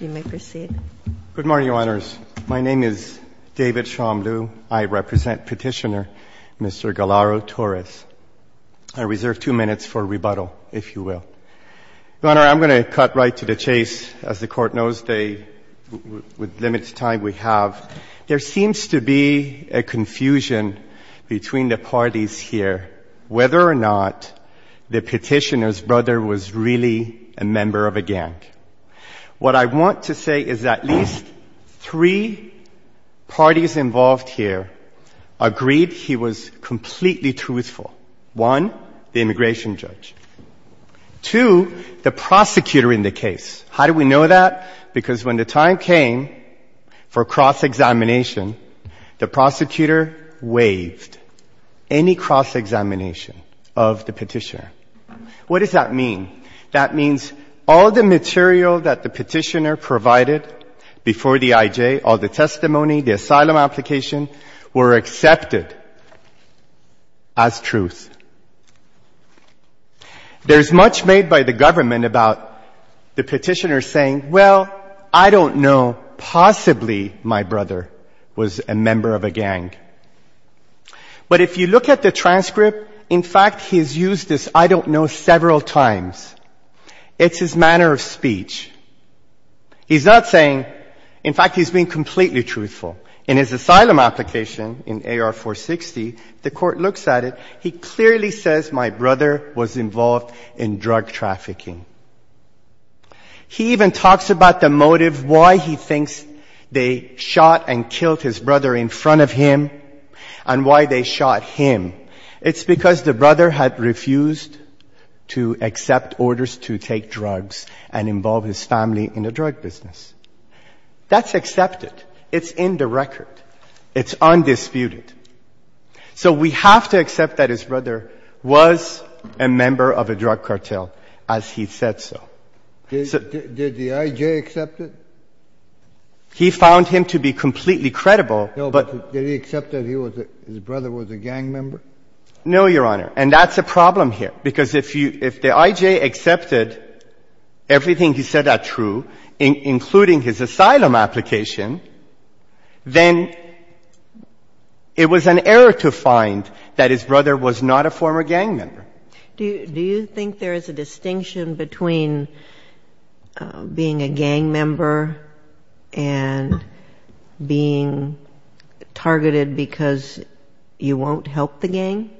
You may proceed. Good morning, Your Honors. My name is David Chamblew. I represent Petitioner Mr. Gallardo-Torres. I reserve two minutes for rebuttal, if you will. Your Honor, I'm going to cut right to the chase. As the Court knows, with the limited time we have, there seems to be a confusion between the parties here, whether or not the petitioner's brother was really a member of a gang. What I want to say is that at least three parties involved here agreed he was completely truthful. One, the immigration judge. Two, the prosecutor in the case. How do we know that? Because when the time came for cross-examination, the prosecutor waived any cross-examination of the petitioner. What does that mean? That means all the material that the petitioner provided before the IJ, all the testimony, the asylum application, were accepted as truth. There's much made by the government about the petitioner saying, well, I don't know, possibly my brother was a member of a gang. But if you look at the transcript, in fact, he's used this I don't know several times. It's his manner of speech. He's not saying, in fact, he's being completely truthful. In his asylum application in AR-460, the Court looks at it. He clearly says my brother was involved in drug trafficking. He even talks about the motive why he thinks they shot and killed his brother in front of him and why they shot him. It's because the brother had refused to accept orders to take drugs and involve his family in the drug business. That's accepted. It's in the record. It's undisputed. So we have to accept that his brother was a member of a drug cartel, as he said so. Did the IJ accept it? He found him to be completely credible. No, but did he accept that his brother was a gang member? No, Your Honor. And that's the problem here, because if the IJ accepted everything he said are true, including his asylum application, then it was an error to find that his brother was not a former gang member. Do you think there is a distinction between being a gang member and being targeted because you won't help the gang?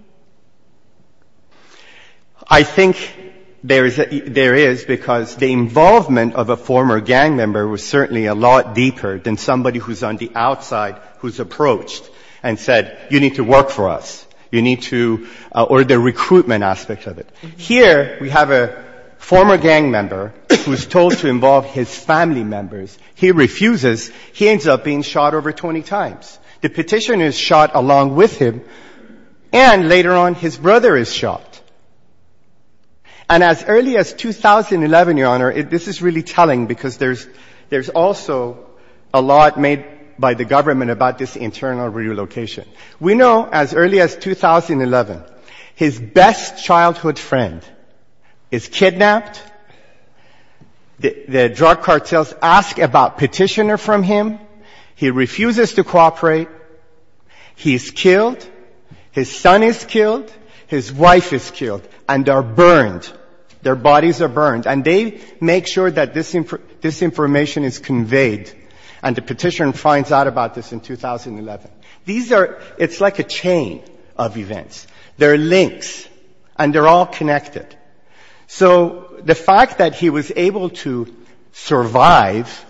I think there is, because the involvement of a former gang member was certainly a lot deeper than somebody who's on the outside who's approached and said, you need to work for us. You need to or the recruitment aspect of it. Here we have a former gang member who's told to involve his family members. He refuses. He ends up being shot over 20 times. The petitioner is shot along with him, and later on his brother is shot. And as early as 2011, Your Honor, this is really telling, because there's also a lot made by the government about this internal relocation. We know as early as 2011, his best childhood friend is kidnapped. The drug cartels ask about petitioner from him. He refuses to cooperate. He's killed. His son is killed. His wife is killed and are burned. Their bodies are burned. And they make sure that this information is conveyed, and the petitioner finds out about this in 2011. It's like a chain of events. There are links, and they're all connected. So the fact that he was able to survive,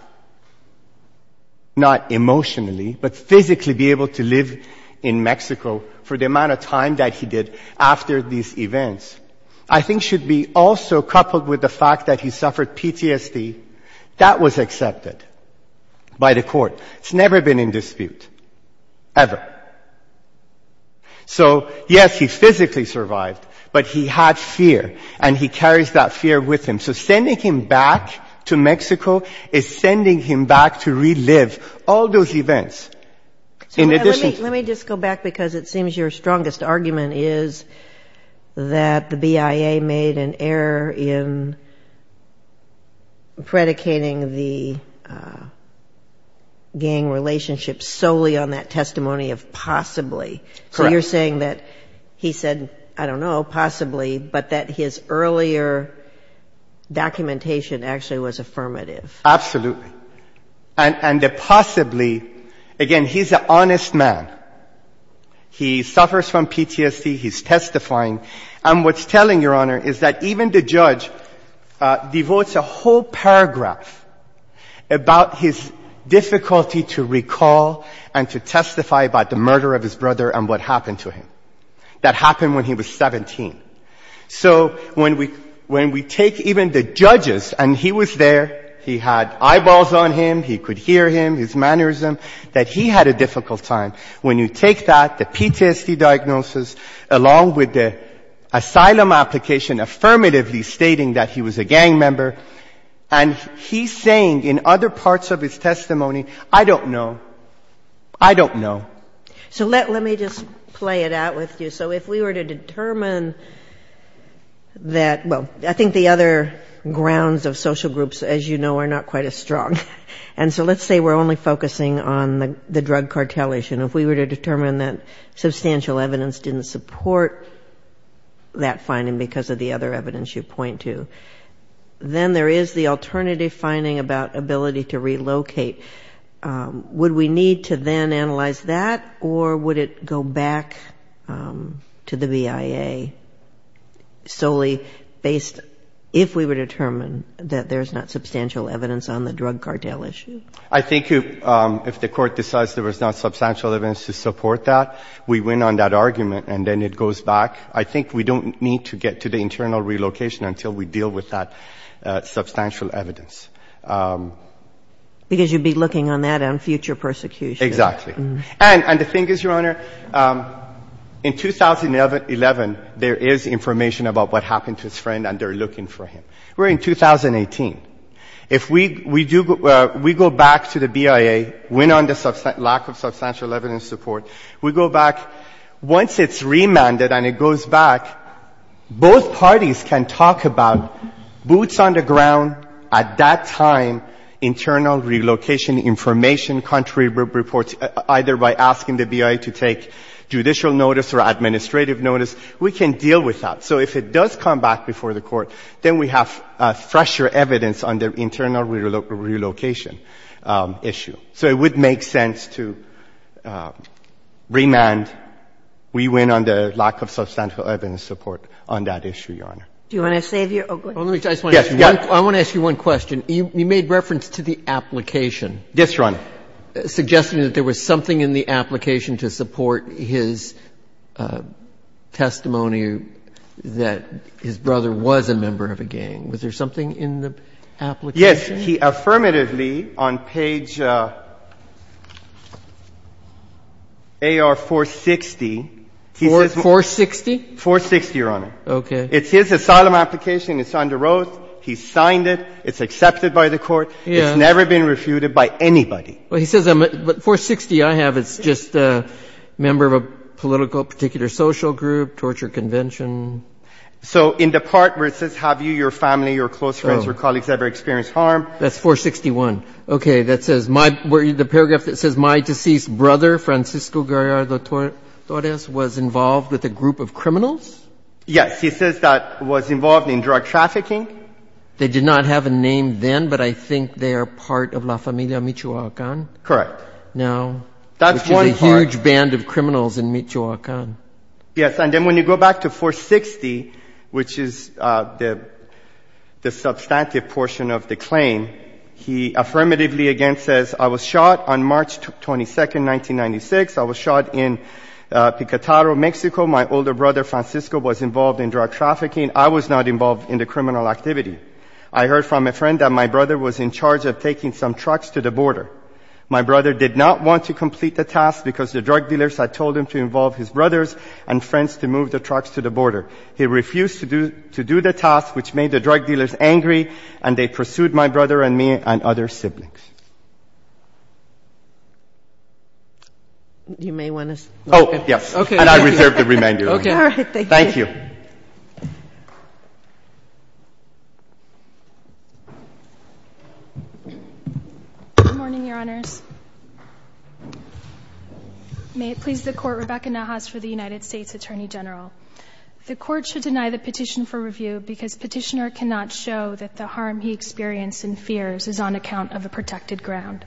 not emotionally, but physically be able to live in Mexico for the amount of time that he did after these events, I think should be also coupled with the fact that he suffered PTSD. That was accepted by the court. It's never been in dispute, ever. So, yes, he physically survived, but he had fear, and he carries that fear with him. So sending him back to Mexico is sending him back to relive all those events. In addition to that... Let me just go back, because it seems your strongest argument is that the BIA made an error in predicating the gang relationship solely on that testimony of possibly. So you're saying that he said, I don't know, possibly, but that his earlier documentation actually was affirmative. Absolutely. And that possibly, again, he's an honest man. He suffers from PTSD. He's testifying. And what's telling, Your Honor, is that even the judge devotes a whole paragraph about his difficulty to recall and to testify about the murder of his brother and what happened to him. That happened when he was 17. So when we take even the judges, and he was there, he had eyeballs on him, he could hear him, his mannerism, that he had a difficult time. When you take that, the PTSD diagnosis, along with the asylum application affirmatively stating that he was a gang member, and he's saying in other parts of his testimony, I don't know, I don't know. So let me just play it out with you. So if we were to determine that, well, I think the other grounds of social groups, as you know, are not quite as strong. And so let's say we're only focusing on the drug cartel issue. And if we were to determine that substantial evidence didn't support that finding because of the other evidence you point to, then there is the alternative finding about ability to relocate. Would we need to then analyze that, or would it go back to the BIA solely based, if we were to determine that there's not substantial evidence on the drug cartel issue? I think if the court decides there was not substantial evidence to support that, we win on that argument, and then it goes back. I think we don't need to get to the internal relocation until we deal with that substantial evidence. Because you'd be looking on that on future persecution. Exactly. And the thing is, Your Honor, in 2011, there is information about what happened to his friend, and they're looking for him. We're in 2018. If we go back to the BIA, win on the lack of substantial evidence support, we go back. Once it's remanded and it goes back, both parties can talk about boots on the ground at that time. Internal relocation information, contrary reports, either by asking the BIA to take judicial notice or administrative notice, we can deal with that. So if it does come back before the court, then we have fresher evidence on the internal relocation issue. So it would make sense to remand. We win on the lack of substantial evidence support on that issue, Your Honor. Do you want to save your own question? I want to ask you one question. You made reference to the application. Yes, Your Honor. Suggesting that there was something in the application to support his testimony that his brother was a member of a gang. Was there something in the application? Yes. Affirmatively, on page AR-460. 460? 460, Your Honor. Okay. It's his asylum application. It's under oath. He signed it. It's accepted by the court. It's never been refuted by anybody. Well, he says 460 I have. It's just a member of a political, particular social group, torture convention. So in the part where it says have you, your family, your close friends or colleagues ever experienced harm. That's 461. Okay. That says my – the paragraph that says my deceased brother, Francisco Gallardo Torres, was involved with a group of criminals? Yes. He says that was involved in drug trafficking. They did not have a name then, but I think they are part of La Familia Michoacan? Correct. Now, which is a huge band of criminals in Michoacan. Yes. And then when you go back to 460, which is the substantive portion of the claim, he affirmatively again says I was shot on March 22, 1996. I was shot in Picataro, Mexico. My older brother, Francisco, was involved in drug trafficking. I was not involved in the criminal activity. I heard from a friend that my brother was in charge of taking some trucks to the border. My brother did not want to complete the task because the drug dealers had told him to involve his brothers and friends to move the trucks to the border. He refused to do the task, which made the drug dealers angry, and they pursued my brother and me and other siblings. You may want to stop. Oh, yes. Okay. And I reserve the remainder of my time. Okay. All right. Thank you. Thank you. Good morning, Your Honors. May it please the Court, Rebecca Nahas for the United States Attorney General. The Court should deny the petition for review because Petitioner cannot show that the harm he experienced and fears is on account of a protection.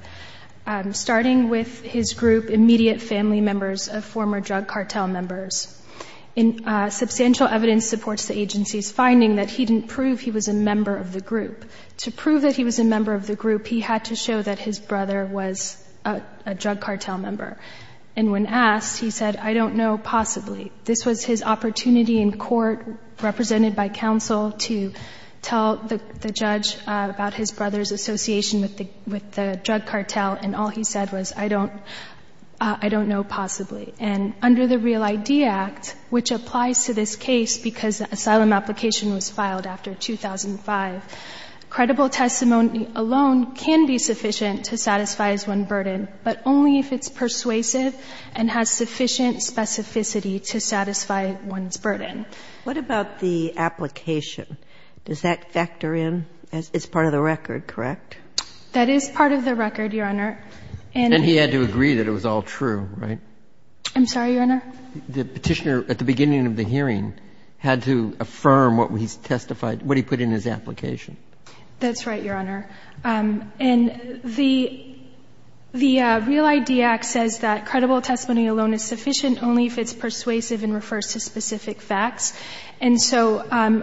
Starting with his group, immediate family members of former drug cartel members. Substantial evidence supports the agency's finding that he didn't prove he was a member of the group. To prove that he was a member of the group, he had to show that his brother was a drug cartel member. And when asked, he said, I don't know, possibly. This was his opportunity in court, represented by counsel, to tell the judge about his brother's association with the drug cartel. And all he said was, I don't know, possibly. And under the Real ID Act, which applies to this case because the asylum application was filed after 2005, credible testimony alone can be sufficient to satisfy one's burden, but only if it's persuasive and has sufficient specificity to satisfy one's burden. What about the application? Does that factor in as part of the record, correct? That is part of the record, Your Honor. And he had to agree that it was all true, right? I'm sorry, Your Honor? The Petitioner, at the beginning of the hearing, had to affirm what he testified what he put in his application. That's right, Your Honor. And the Real ID Act says that credible testimony alone is sufficient only if it's persuasive and refers to specific facts. And so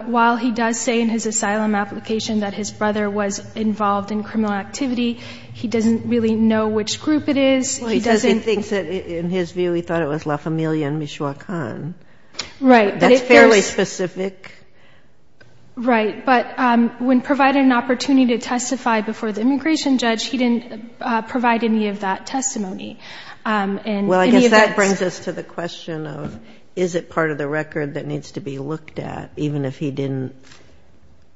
while he does say in his asylum application that his brother was involved in criminal activity, he doesn't really know which group it is. He doesn't think that, in his view, he thought it was La Familia and Michoacan. Right. That's fairly specific. Right. But when provided an opportunity to testify before the immigration judge, he didn't provide any of that testimony. Well, I guess that brings us to the question of, is it part of the record that needs to be looked at, even if he didn't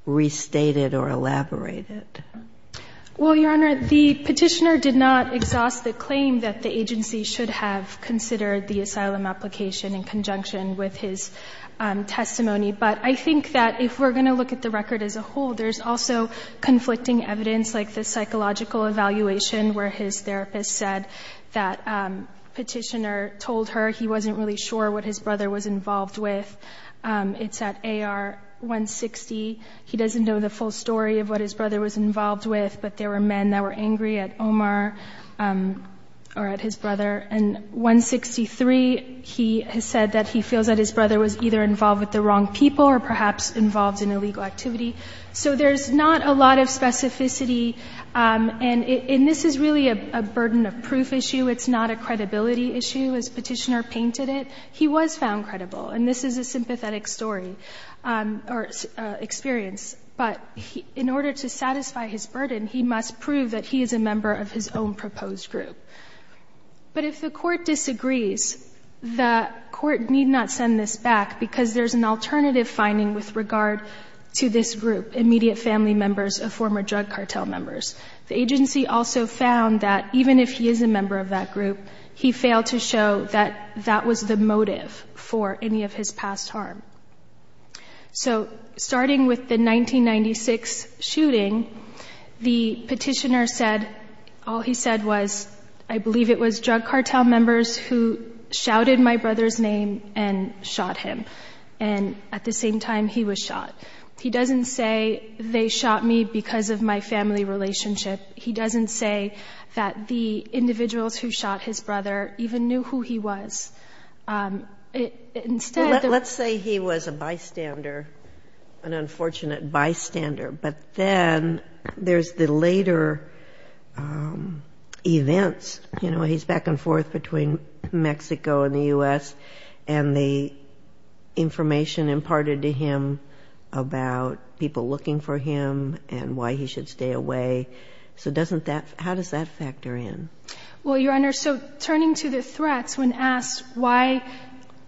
restate it or elaborate it? Well, Your Honor, the Petitioner did not exhaust the claim that the agency should have considered the asylum application in conjunction with his testimony. But I think that if we're going to look at the record as a whole, there's also conflicting evidence, like the psychological evaluation where his therapist said that Petitioner told her he wasn't really sure what his brother was involved with. It's at AR 160. He doesn't know the full story of what his brother was involved with, but there were men that were angry at Omar or at his brother. And 163, he has said that he feels that his brother was either involved with the wrong people or perhaps involved in illegal activity. So there's not a lot of specificity. And this is really a burden of proof issue. It's not a credibility issue, as Petitioner painted it. He was found credible, and this is a sympathetic story or experience. But in order to satisfy his burden, he must prove that he is a member of his own proposed group. But if the Court disagrees, the Court need not send this back, because there's an alternative finding with regard to this group, immediate family members of former drug cartel members. The agency also found that even if he is a member of that group, he failed to show that that was the motive for any of his past harm. So starting with the 1996 shooting, the Petitioner said all he said was, I believe it was drug cartel members who shouted my brother's name and shot him. And at the same time, he was shot. He doesn't say they shot me because of my family relationship. He doesn't say that the individuals who shot his brother even knew who he was. Instead, the ---- Let's say he was a bystander, an unfortunate bystander. But then there's the later events. You know, he's back and forth between Mexico and the U.S. and the information imparted to him about people looking for him and why he should stay away. So doesn't that ---- how does that factor in? Well, Your Honor, so turning to the threats, when asked why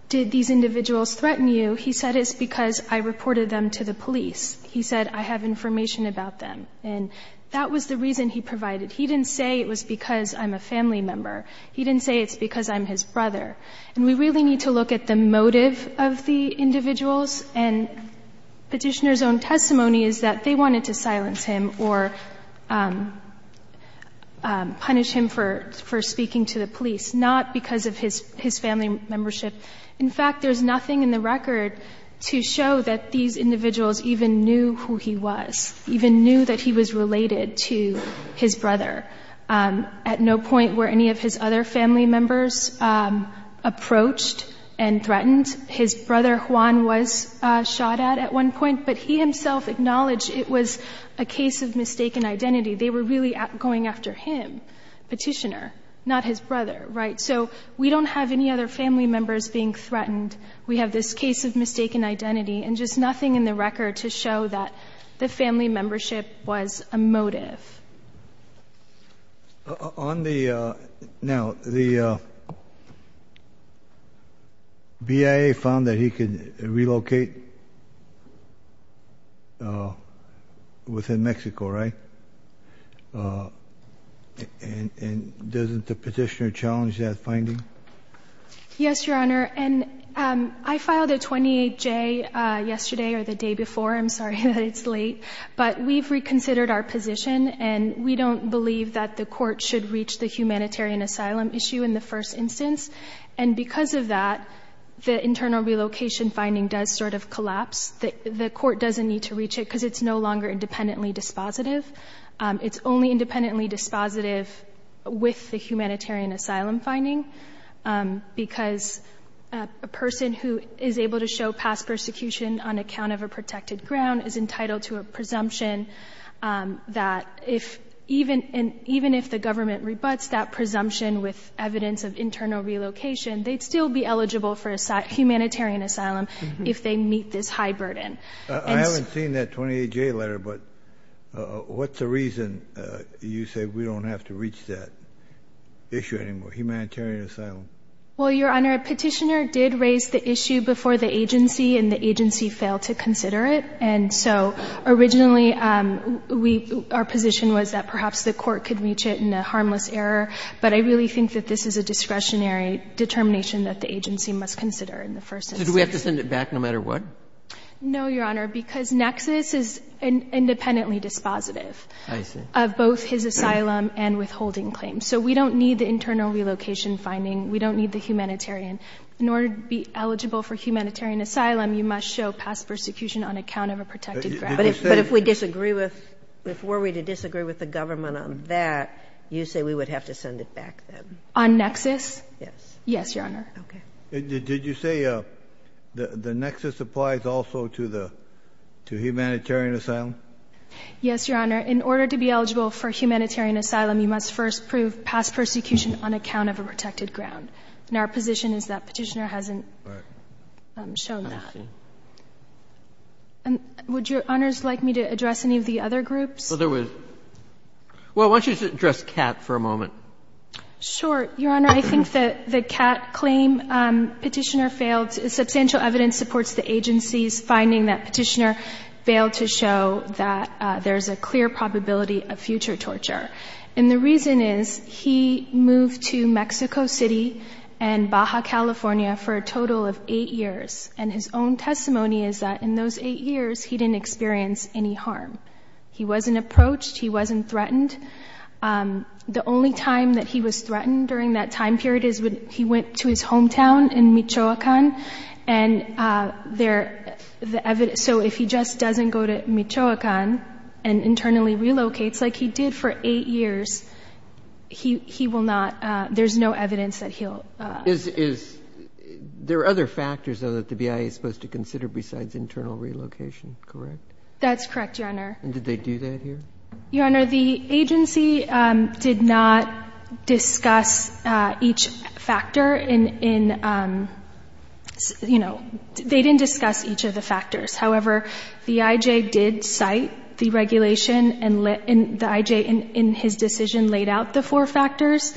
did these individuals threaten you, he said it's because I reported them to the police. He said I have information about them. And that was the reason he provided. He didn't say it was because I'm a family member. He didn't say it's because I'm his brother. And we really need to look at the motive of the individuals, and Petitioner's own testimony is that they wanted to silence him or punish him for speaking to the police, not because of his family membership. In fact, there's nothing in the record to show that these individuals even knew who he was, even knew that he was related to his brother. At no point were any of his other family members approached and threatened. His brother Juan was shot at at one point, but he himself acknowledged it was a case of mistaken identity. They were really going after him, Petitioner, not his brother. Right? So we don't have any other family members being threatened. We have this case of mistaken identity and just nothing in the record to show that the family membership was a motive. Now, the BIA found that he could relocate within Mexico, right? And doesn't the Petitioner challenge that finding? Yes, Your Honor. And I filed a 28-J yesterday or the day before. I'm sorry that it's late. But we've reconsidered our position, and we don't believe that the court should reach the humanitarian asylum issue in the first instance. And because of that, the internal relocation finding does sort of collapse. The court doesn't need to reach it because it's no longer independently dispositive. It's only independently dispositive with the humanitarian asylum finding because a person who is able to show past persecution on account of a protected ground is entitled to a presumption that even if the government rebuts that presumption with evidence of internal relocation, they'd still be eligible for humanitarian asylum if they meet this high burden. I haven't seen that 28-J letter, but what's the reason you say we don't have to reach that issue anymore, humanitarian asylum? Well, Your Honor, Petitioner did raise the issue before the agency, and the agency failed to consider it. And so originally our position was that perhaps the court could reach it in a harmless error, but I really think that this is a discretionary determination that the agency must consider in the first instance. So do we have to send it back no matter what? No, Your Honor, because Nexus is independently dispositive of both his asylum and withholding claims. So we don't need the internal relocation finding. We don't need the humanitarian. In order to be eligible for humanitarian asylum, you must show past persecution on account of a protected ground. But if we disagree with the government on that, you say we would have to send it back then? On Nexus? Yes. Yes, Your Honor. Okay. Did you say the Nexus applies also to humanitarian asylum? Yes, Your Honor. In order to be eligible for humanitarian asylum, you must first prove past persecution on account of a protected ground. And our position is that Petitioner hasn't shown that. And would Your Honors like me to address any of the other groups? Well, there was — well, why don't you address Catt for a moment? Sure. Your Honor, I think that the Catt claim Petitioner failed. Substantial evidence supports the agency's finding that Petitioner failed to show that there's a clear probability of future torture. And the reason is he moved to Mexico City and Baja California for a total of eight years. And his own testimony is that in those eight years, he didn't experience any harm. He wasn't approached. He wasn't threatened. The only time that he was threatened during that time period is when he went to his hometown in Michoacan. And there — so if he just doesn't go to Michoacan and internally relocates like he did for eight years, he will not — there's no evidence that he'll — Is — there are other factors, though, that the BIA is supposed to consider besides internal relocation, correct? That's correct, Your Honor. And did they do that here? Your Honor, the agency did not discuss each factor in — in — you know, they didn't discuss each of the factors. However, the I.J. did cite the regulation and the I.J. in his decision laid out the four factors.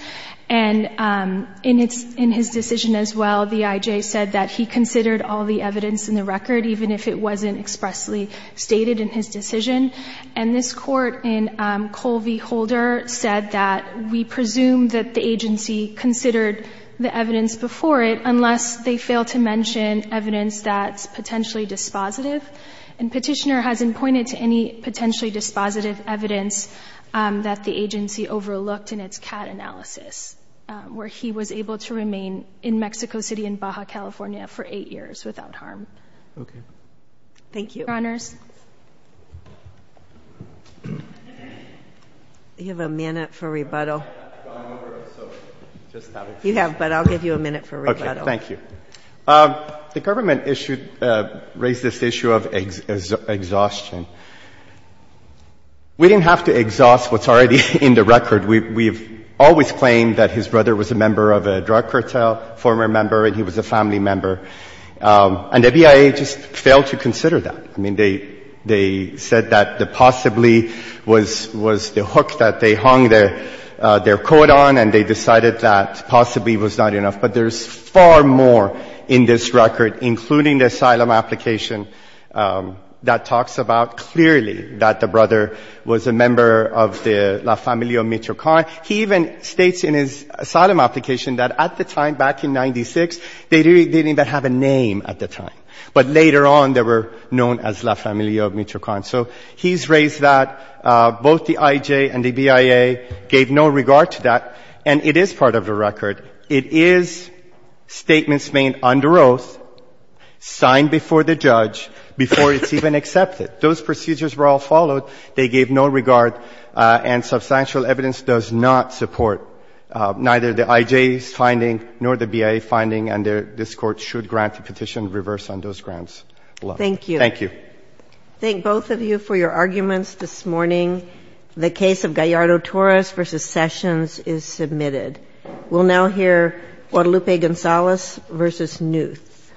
And in his decision as well, the I.J. said that he considered all the evidence in the record, even if it wasn't expressly stated in his decision. And this Court in Colvi-Holder said that we presume that the agency considered the evidence before it unless they fail to mention evidence that's potentially dispositive. And Petitioner hasn't pointed to any potentially dispositive evidence that the agency overlooked in its CAT analysis, where he was able to remain in Mexico City and Baja California for eight years without harm. Okay. Thank you. Your Honors. You have a minute for rebuttal. Well, I'm over, so I just have a few minutes. You have, but I'll give you a minute for rebuttal. Okay. Thank you. The government issued — raised this issue of exhaustion. We didn't have to exhaust what's already in the record. We've always claimed that his brother was a member of a drug cartel, former member, and he was a family member. And the BIA just failed to consider that. I mean, they said that the possibly was the hook that they hung their coat on, and they decided that possibly was not enough. But there's far more in this record, including the asylum application, that talks about clearly that the brother was a member of the la familia Metro-Con. He even states in his asylum application that at the time, back in 96, they didn't even have a name at the time. But later on, they were known as la familia Metro-Con. So he's raised that. Both the IJ and the BIA gave no regard to that. And it is part of the record. It is statements made under oath, signed before the judge, before it's even accepted. Those procedures were all followed. They gave no regard. And substantial evidence does not support neither the IJ's finding nor the BIA finding. And this Court should grant the petition reverse on those grants. Thank you. Thank you. Thank both of you for your arguments this morning. The case of Gallardo-Torres v. Sessions is submitted. We'll now hear Guadalupe Gonzalez v. Knuth.